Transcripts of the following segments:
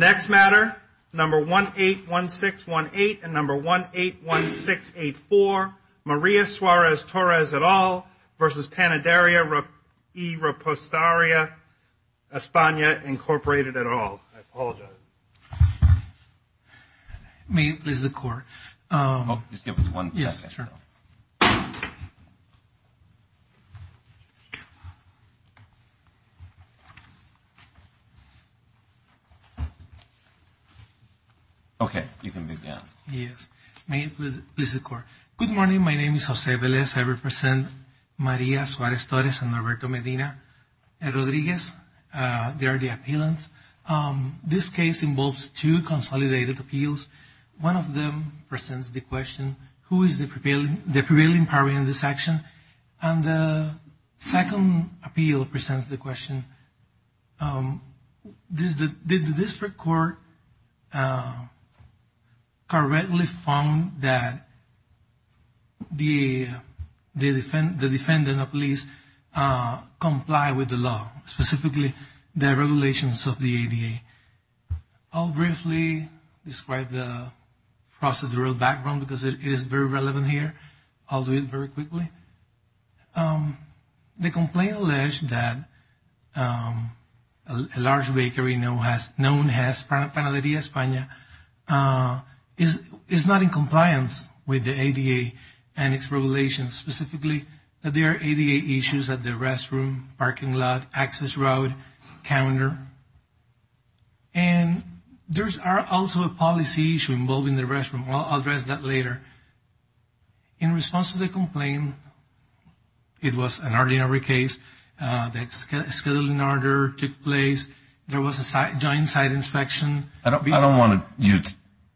Next matter, number 181618 and number 181684. Maria Suarez-Torres et al. versus Panaderia y Reposteria Espana Incorporated et al. I apologize. Good morning. My name is Jose Velez. I represent Maria Suarez-Torres and Alberto Medina Rodriguez. They are the appealants. This case involves two consolidated appeals. One of them presents the question, who is the prevailing party in this action? And the second appeal presents the question, did the district court correctly found that the defendant of police comply with the law, specifically the regulations of the ADA? I'll briefly describe the procedural background because it is very relevant here. I'll do it very quickly. The complaint alleged that a large bakery known as Panaderia Espana is not in compliance with the ADA and its regulations, specifically that there are ADA issues at the restroom, parking lot, access road, calendar. And there's also a policy issue involving the restroom. I'll address that later. In response to the complaint, it was an ordinary case. The scheduling order took place. There was a joint site inspection. I don't want you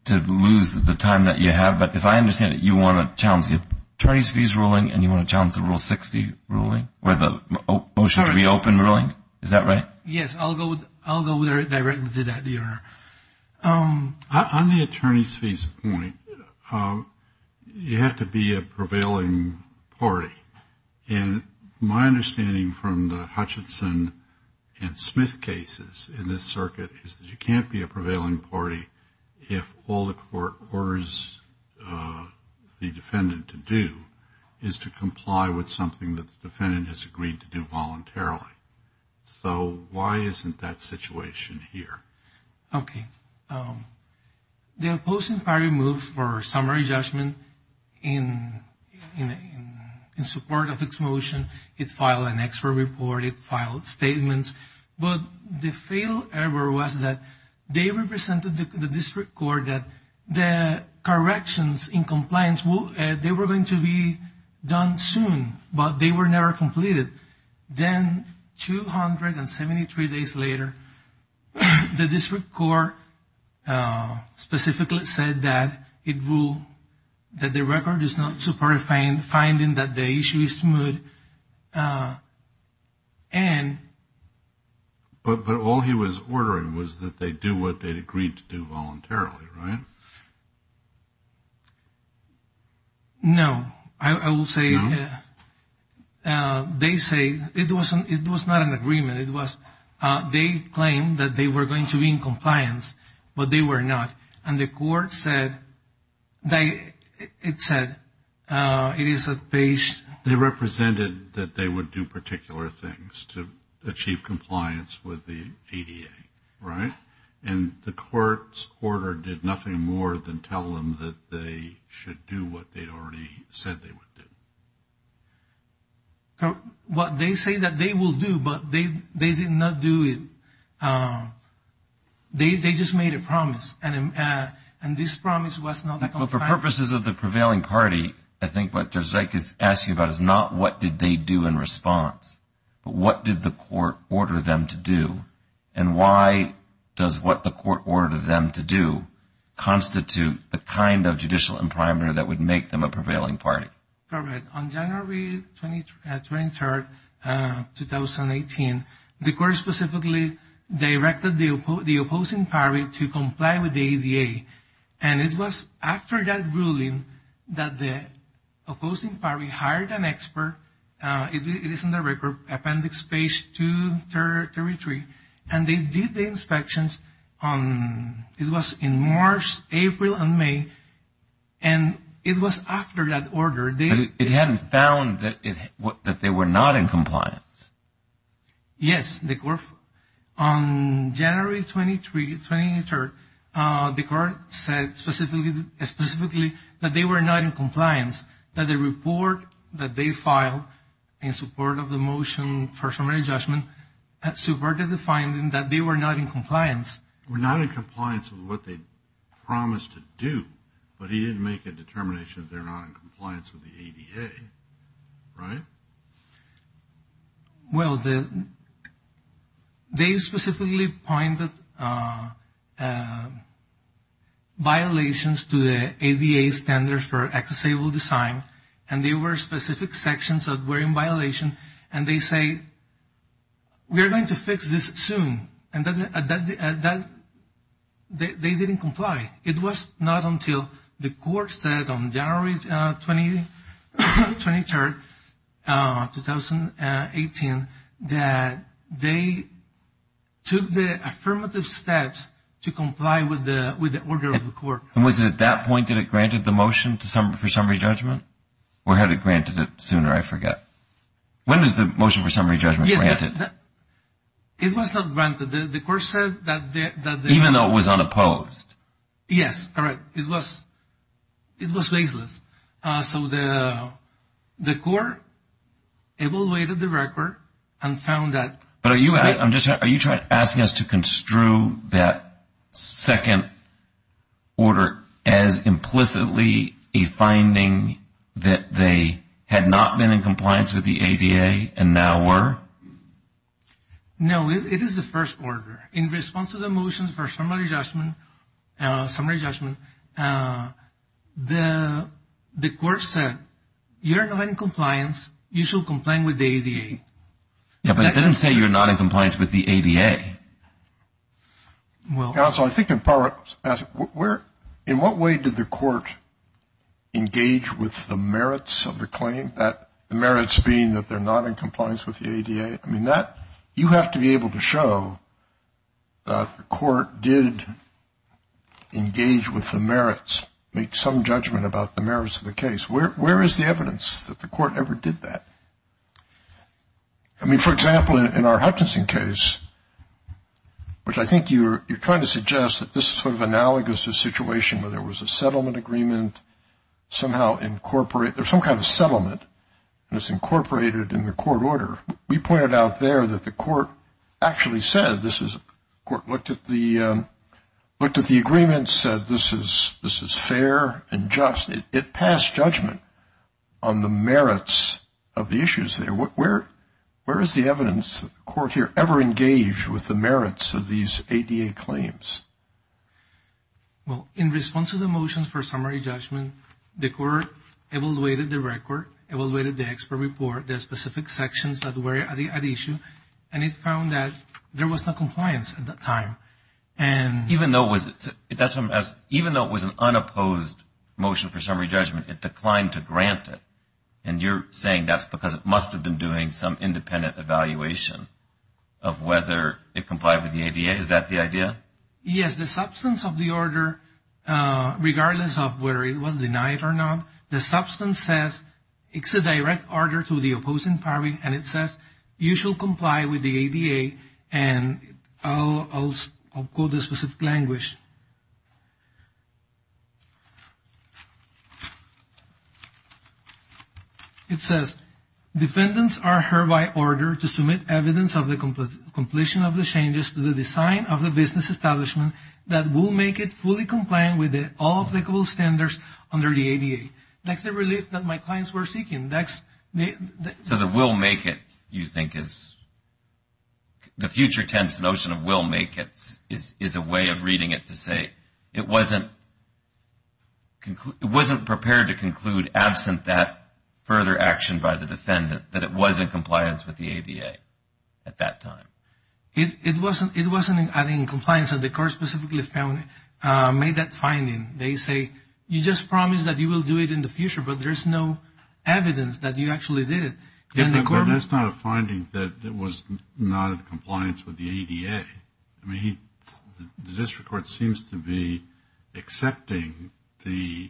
to lose the time that you have, but if I understand it, you want to challenge the attorney's fees ruling and you want to challenge the Rule 60 ruling or the motion to reopen ruling? Is that right? Yes, I'll go directly to that, Your Honor. On the attorney's fees point, you have to be a prevailing party. And my understanding from the Hutchinson and Smith cases in this circuit is that you can't be a prevailing party if all the court orders the defendant to do is to comply with something that the defendant has agreed to do voluntarily. So why isn't that situation here? Okay. The opposing party moved for summary judgment in support of this motion. It filed an expert report. It filed statements. But the fail ever was that they represented the district court that the corrections in compliance, they were going to be done soon, but they were never completed. Then 273 days later, the district court specifically said that the record is not supported, finding that the issue is smooth. But all he was ordering was that they do what they agreed to do voluntarily, right? No, I will say they say it wasn't. It was not an agreement. It was they claimed that they were going to be in compliance, but they were not. And the court said they it said it is a page. They represented that they would do particular things to achieve compliance with the ADA, right? And the court's order did nothing more than tell them that they should do what they'd already said they would do. What they say that they will do, but they did not do it. They just made a promise. And this promise was not that. But for purposes of the prevailing party, I think what I could ask you about is not what did they do in response, but what did the court order them to do? And why does what the court ordered them to do constitute the kind of judicial imprimatur that would make them a prevailing party? Correct. On January 23rd, 2018, the court specifically directed the opposing party to comply with the ADA. And it was after that ruling that the opposing party hired an expert. It is in the record appendix space to territory. And they did the inspections on. It was in March, April and May. And it was after that order. It hadn't found that they were not in compliance. Yes, they were. On January 23rd, the court said specifically that they were not in compliance, that the report that they filed in support of the motion for summary judgment that subverted the finding that they were not in compliance. We're not in compliance with what they promised to do, but he didn't make a determination that they're not in compliance with the ADA. Right. Well, they specifically pointed violations to the ADA standards for accessible design. And they were specific sections that were in violation. And they say, we are going to fix this soon. And that they didn't comply. It was not until the court said on January 23rd, 2018, that they took the affirmative steps to comply with the order of the court. And was it at that point that it granted the motion for summary judgment or had it granted it sooner? I forget. When is the motion for summary judgment granted? It was not granted. The court said that even though it was unopposed. Yes. All right. It was. It was baseless. So the court evaluated the record and found that. But are you I'm just are you trying to ask us to construe that second order as implicitly a finding that they had not been in compliance with the ADA and now were. No, it is the first order in response to the motions for summary judgment. Summary judgment. The court said you're not in compliance. You should complain with the ADA. Well, I think in part, we're in what way did the court engage with the merits of the claim that the merits being that they're not in compliance with the ADA? I mean, that you have to be able to show that the court did engage with the merits, make some judgment about the merits of the case. Where is the evidence that the court ever did that? I mean, for example, in our Hutchinson case, which I think you're trying to suggest that this is sort of analogous to a situation where there was a settlement agreement somehow incorporate there's some kind of settlement that's incorporated in the court order. We pointed out there that the court actually said this is court looked at the looked at the agreement said this is this is fair and just it passed judgment on the merits of the issues. Well, in response to the motion for summary judgment, the court evaluated the record, evaluated the expert report, the specific sections that were at issue, and it found that there was no compliance at that time. Even though it was an unopposed motion for summary judgment, it declined to grant it. And you're saying that's because it must have been doing some independent evaluation of whether it complied with the ADA. Is that the idea? Yes, the substance of the order, regardless of whether it was denied or not, the substance says it's a direct order to the opposing party. And it says you shall comply with the ADA. It says defendants are hereby ordered to submit evidence of the completion of the changes to the design of the business establishment that will make it fully compliant with all applicable standards under the ADA. That's the relief that my clients were seeking. So the will make it, you think, is the future tense notion of will make it is a way of reading it to say it wasn't prepared to conclude absent that further action by the defendant that it was in compliance with the ADA at that time. It wasn't in compliance. Yes, and the court specifically made that finding. They say you just promised that you will do it in the future, but there's no evidence that you actually did it. But that's not a finding that was not in compliance with the ADA. I mean, the district court seems to be accepting the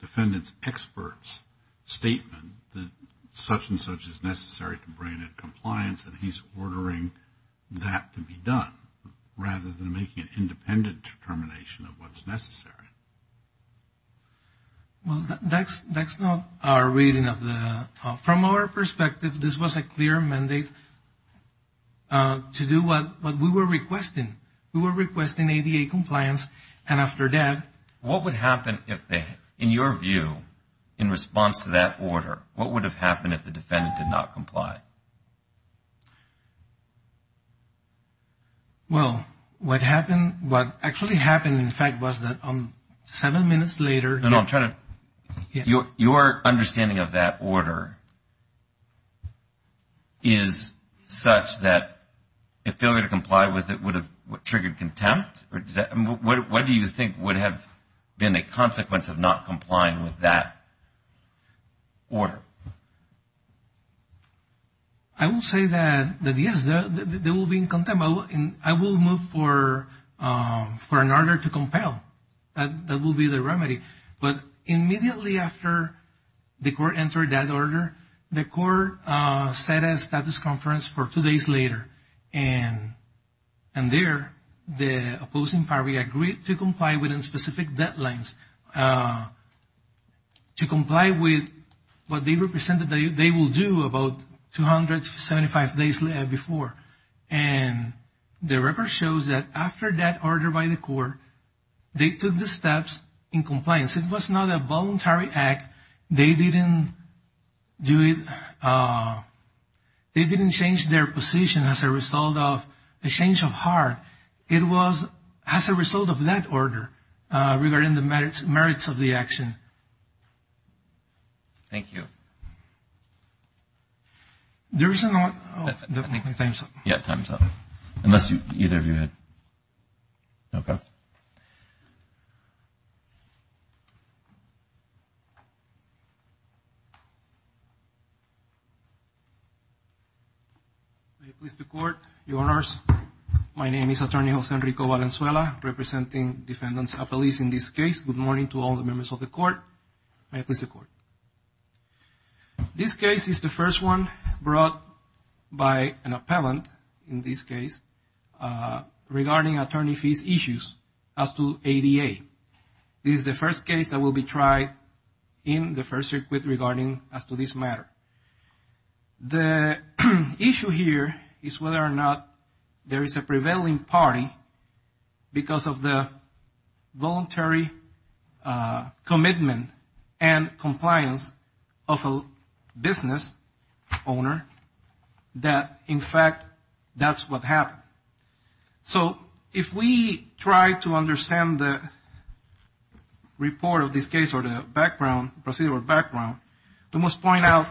defendant's expert's statement that such and such is necessary to bring it in compliance, and he's ordering that to be done rather than making an independent determination of what's necessary. Well, that's not our reading of the, from our perspective, this was a clear mandate. It was to do what we were requesting. We were requesting ADA compliance, and after that... What would happen if they, in your view, in response to that order, what would have happened if the defendant did not comply? Well, what happened, what actually happened, in fact, was that seven minutes later... Your understanding of that order is such that a failure to comply with it would have triggered contempt? What do you think would have been a consequence of not complying with that order? I will say that, yes, there will be contempt. I will move for an order to compel. That will be the remedy. But immediately after the court entered that order, the court set a status conference for two days later, and there, the opposing party agreed to comply within specific deadlines. To comply with what they represented they will do about 275 days before. And the record shows that after that order by the court, they took the steps in compliance. It was not a voluntary act. They didn't change their position as a result of a change of heart. It was as a result of that order regarding the merits of the action. Thank you. There is a... Yeah, time's up, unless either of you had... May it please the Court, Your Honors, my name is Attorney Jose Enrico Valenzuela, representing Defendants Appellees in this case. Good morning to all the members of the Court. May it please the Court. This case is the first one brought by an appellant, in this case, regarding attorney fees issues as to ADA. This is the first case that will be tried in the first circuit regarding as to this matter. The issue here is whether or not there is a prevailing party because of the voluntary action. Commitment and compliance of a business owner that, in fact, that's what happened. So if we try to understand the report of this case or the background, procedural background, we must point out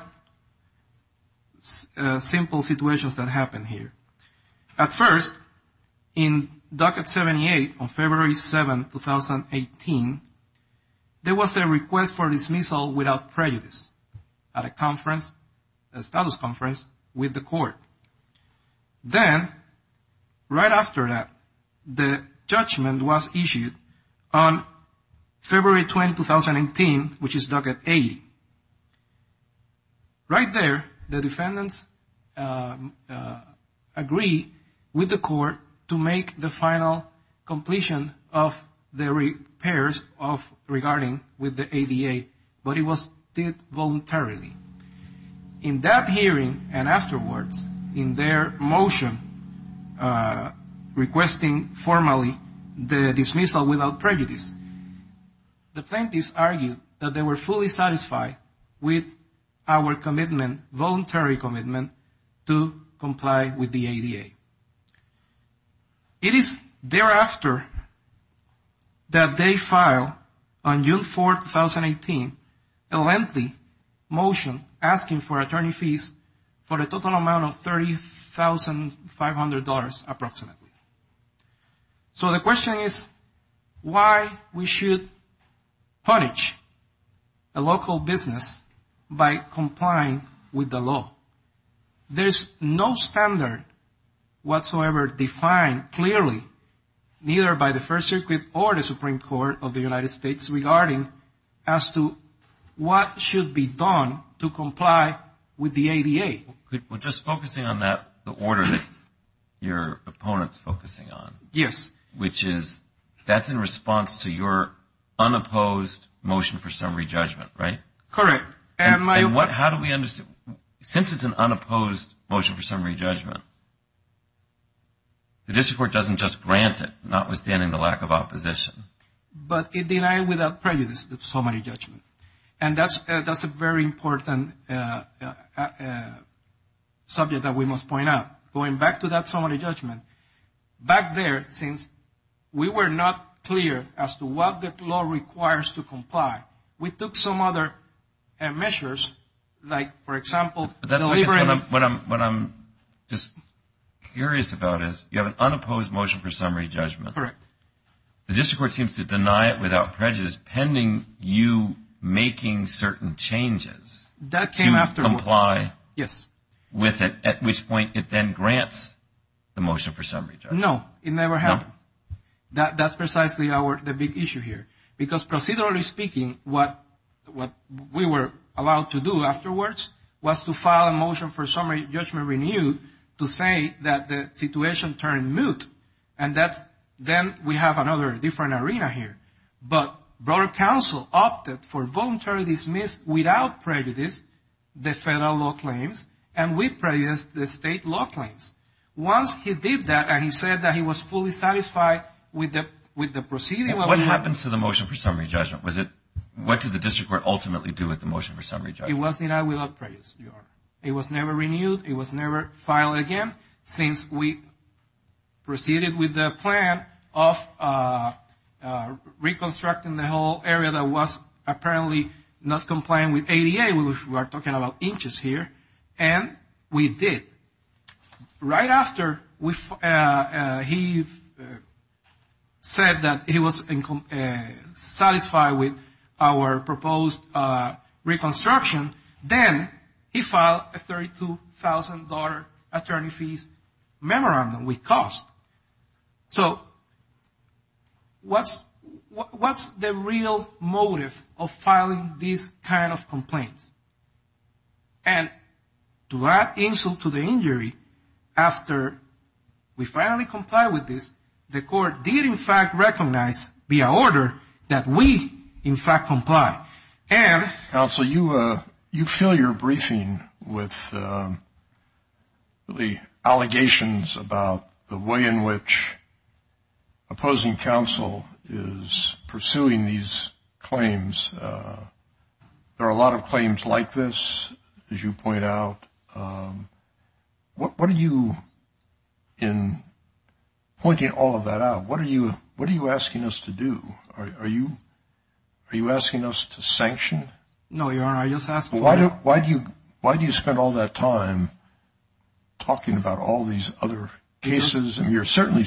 simple situations that happened here. At first, in Docket 78, on February 7, 2018, there was a request for dismissal without prejudice at a conference, a status conference with the Court. Then, right after that, the judgment was issued on February 20, 2018, which is Docket 80. Right there, the defendants agree with the Court to make the final completion of the repairs of regarding with the ADA, but it was done voluntarily. In that hearing and afterwards, in their motion requesting formally the dismissal without prejudice, the plaintiffs argued that they were fully satisfied with the voluntary commitment to comply with the ADA. It is thereafter that they file, on June 4, 2018, a lengthy motion asking for attorney fees for a total amount of $30,500, approximately. So the question is, why we should punish a local business owner who has committed a crime? Why we should punish a local business by complying with the law? There's no standard whatsoever defined clearly, neither by the First Circuit or the Supreme Court of the United States, regarding as to what should be done to comply with the ADA. Well, just focusing on that, the order that your opponent's focusing on. Yes. Which is, that's in response to your unopposed motion for summary judgment, right? Correct. And how do we understand, since it's an unopposed motion for summary judgment, the district court doesn't just grant it, notwithstanding the lack of opposition. But it denied without prejudice the summary judgment. And that's a very important subject that we must point out. Going back to that summary judgment, back there, since we were not clear as to what the law requires to comply, we took some other measures, like, for example, delivery. What I'm just curious about is, you have an unopposed motion for summary judgment. Correct. The district court seems to deny it without prejudice, pending you making certain changes to comply with it, at which point it then grants the motion for summary judgment. No, it never happened. That's precisely the big issue here. Because procedurally speaking, what we were allowed to do afterwards was to file a motion for summary judgment renewed to say that the situation turned moot. And then we have another different arena here. But broader counsel opted for voluntarily dismiss without prejudice the federal law claims and with prejudice the state law claims. Once he did that and he said that he was fully satisfied with the proceeding... What happens to the motion for summary judgment? What did the district court ultimately do with the motion for summary judgment? It was denied without prejudice. It was never renewed. It was never filed again since we proceeded with the plan of reconstructing the whole area that was apparently not compliant with ADA. We are talking about inches here. And we did. Right after he said that he was satisfied with our proposed reconstruction, then he filed a $32,000 attorney fees memorandum with cost. So what's the real motive of filing these kind of complaints? And to add insult to the injury, after we finally complied with this, the court did in fact recognize via order that we in fact comply. And... Counsel, you fill your briefing with allegations about the way in which opposing counsel is pursuing these claims. There are a lot of claims like this, as you point out. What are you, in pointing all of that out, what are you asking us to do? Are you asking us to sanction? No, Your Honor, I just asked for... Why do you spend all that time talking about all these other cases? Because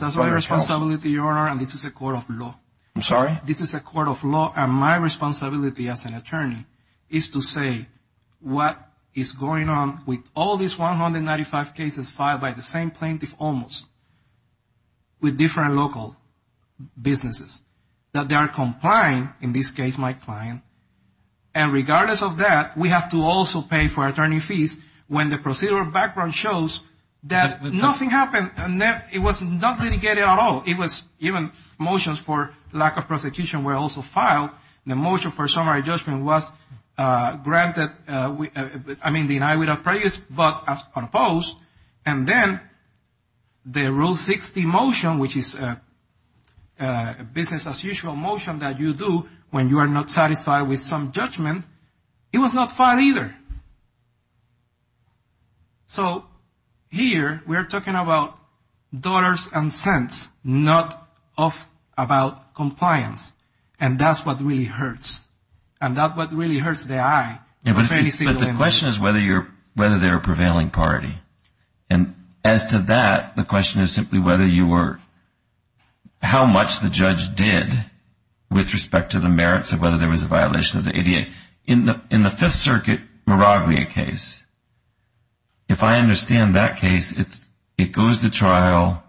that's my responsibility, Your Honor, and this is a court of law. I'm sorry? This is a court of law, and my responsibility as an attorney is to say what is going on with all these 195 cases filed by the same plaintiff almost, with different local businesses. That they are complying, in this case my client. And regardless of that, we have to also pay for attorney fees when the procedural background shows that nothing happened. And it was not litigated at all. It was even motions for lack of prosecution were also filed. The motion for summary judgment was granted, I mean denied without prejudice, but as opposed. And then the Rule 60 motion, which is a business as usual motion that you do when you are not satisfied with some judgment, it was not filed either. So here we are talking about dollars and cents, not about compliance, and that's what really hurts. And that's what really hurts the eye of any single individual. But the question is whether they are a prevailing party. And as to that, the question is simply whether you were... How much the judge did with respect to the merits of whether there was a violation of the ADA. In the Fifth Circuit Maraglia case, if I understand that case, it goes to trial.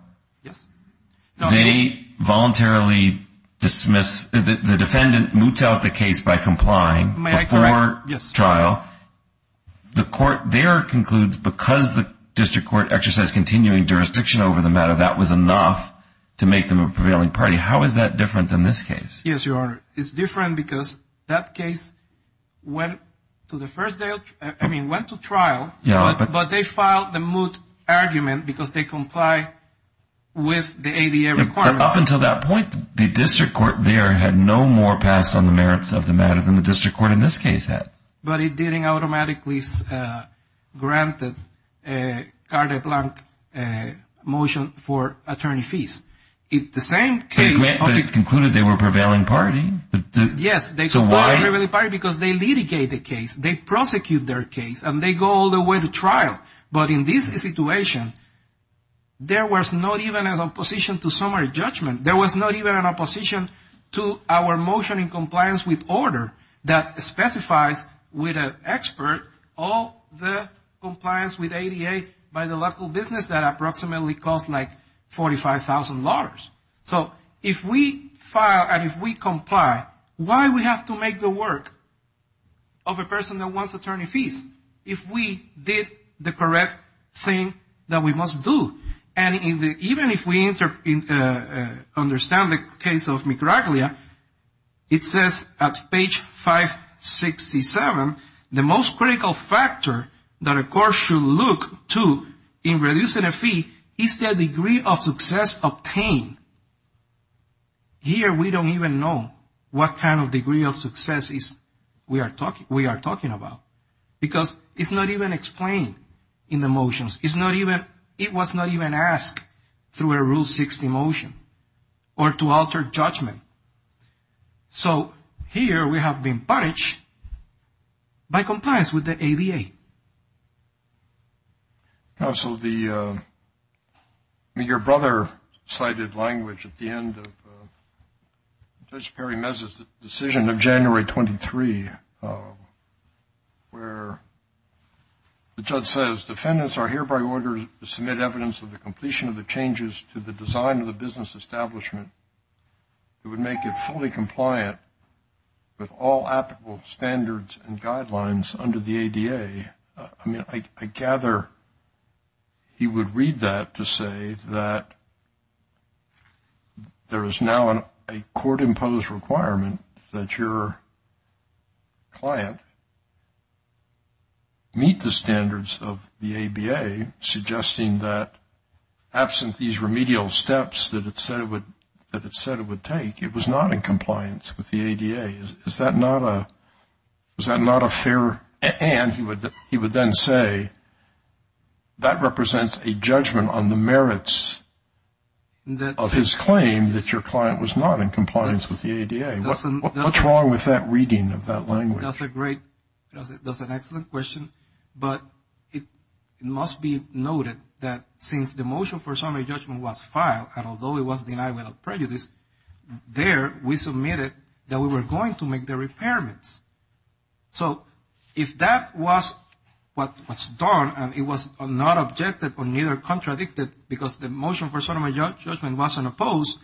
They voluntarily dismiss... The defendant moots out the case by complying before trial. Now, the court there concludes because the district court exercised continuing jurisdiction over the matter, that was enough to make them a prevailing party. How is that different in this case? Yes, Your Honor, it's different because that case went to trial, but they filed the moot argument because they comply with the ADA requirements. But up until that point, the district court there had no more passed on the merits of the matter than the district court in this case had. And they didn't automatically grant the carte blanche motion for attorney fees. The same case... But it concluded they were a prevailing party. Yes, they were a prevailing party because they litigate the case, they prosecute their case, and they go all the way to trial. But in this situation, there was not even an opposition to summary judgment. There was not even an opposition to our motion in compliance with order that specifies with an expert all the compliance with ADA by the local business that approximately cost like $45,000. So if we file and if we comply, why do we have to make the work of a person that wants attorney fees if we did the correct thing that we must do? And even if we understand the case of Micraglia, it says at page 567, the most critical factor that a court should look to in reducing a fee is the degree of success obtained. Here we don't even know what kind of degree of success we are talking about because it's not even explained in the motions. It's not even, it was not even asked through a Rule 60 motion or to alter judgment. So here we have been punished by compliance with the ADA. Counsel, your brother cited language at the end of Judge Perry Mez's decision of January 23, where the judge says defendants are hereby acquitted. Before I submit evidence of the completion of the changes to the design of the business establishment, it would make it fully compliant with all applicable standards and guidelines under the ADA. I mean, I gather he would read that to say that there is now a court-imposed requirement that your client meet the standards of the ABA. And he would say, suggesting that absent these remedial steps that it said it would take, it was not in compliance with the ADA. Is that not a fair, and he would then say, that represents a judgment on the merits of his claim that your client was not in compliance with the ADA. What's wrong with that reading of that language? That's a great, that's an excellent question. But it must be noted that since the motion for summary judgment was filed, and although it was denied without prejudice, there we submitted that we were going to make the repairments. So if that was what was done and it was not objected or neither contradicted because the motion for summary judgment wasn't opposed,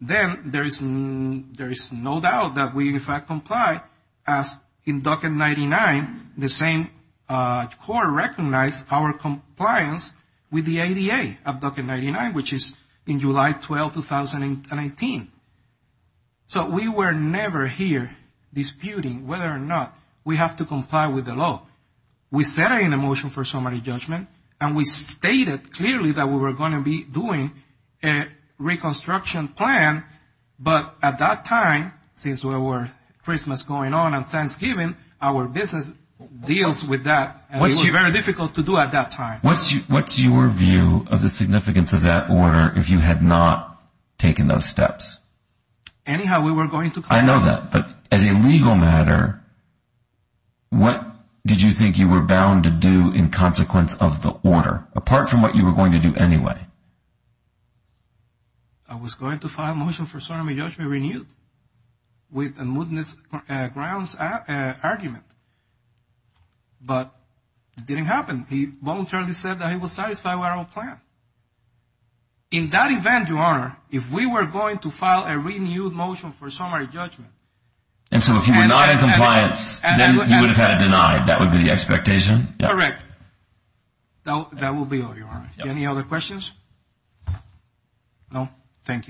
then there is no doubt that we, in fact, comply as in Docket 99, the same court recognized our compliance with the ADA of Docket 99, which is in July 12, 2019. So we were never here disputing whether or not we have to comply with the law. We said in the motion for summary judgment, and we stated clearly that we were going to be doing a reconstruction, a reconstruction plan, but at that time, since we were Christmas going on and Thanksgiving, our business deals with that, and it was very difficult to do at that time. What's your view of the significance of that order if you had not taken those steps? Anyhow, we were going to comply. I know that, but as a legal matter, what did you think you were bound to do in consequence of the order, apart from what you were going to do anyway? I was going to file a motion for summary judgment renewed with a mootness grounds argument, but it didn't happen. He voluntarily said that he was satisfied with our plan. In that event, Your Honor, if we were going to file a renewed motion for summary judgment... And so if you were not in compliance, then you would have had it denied. That would be the expectation. Correct. That will be all, Your Honor. Any other questions? No? Thank you.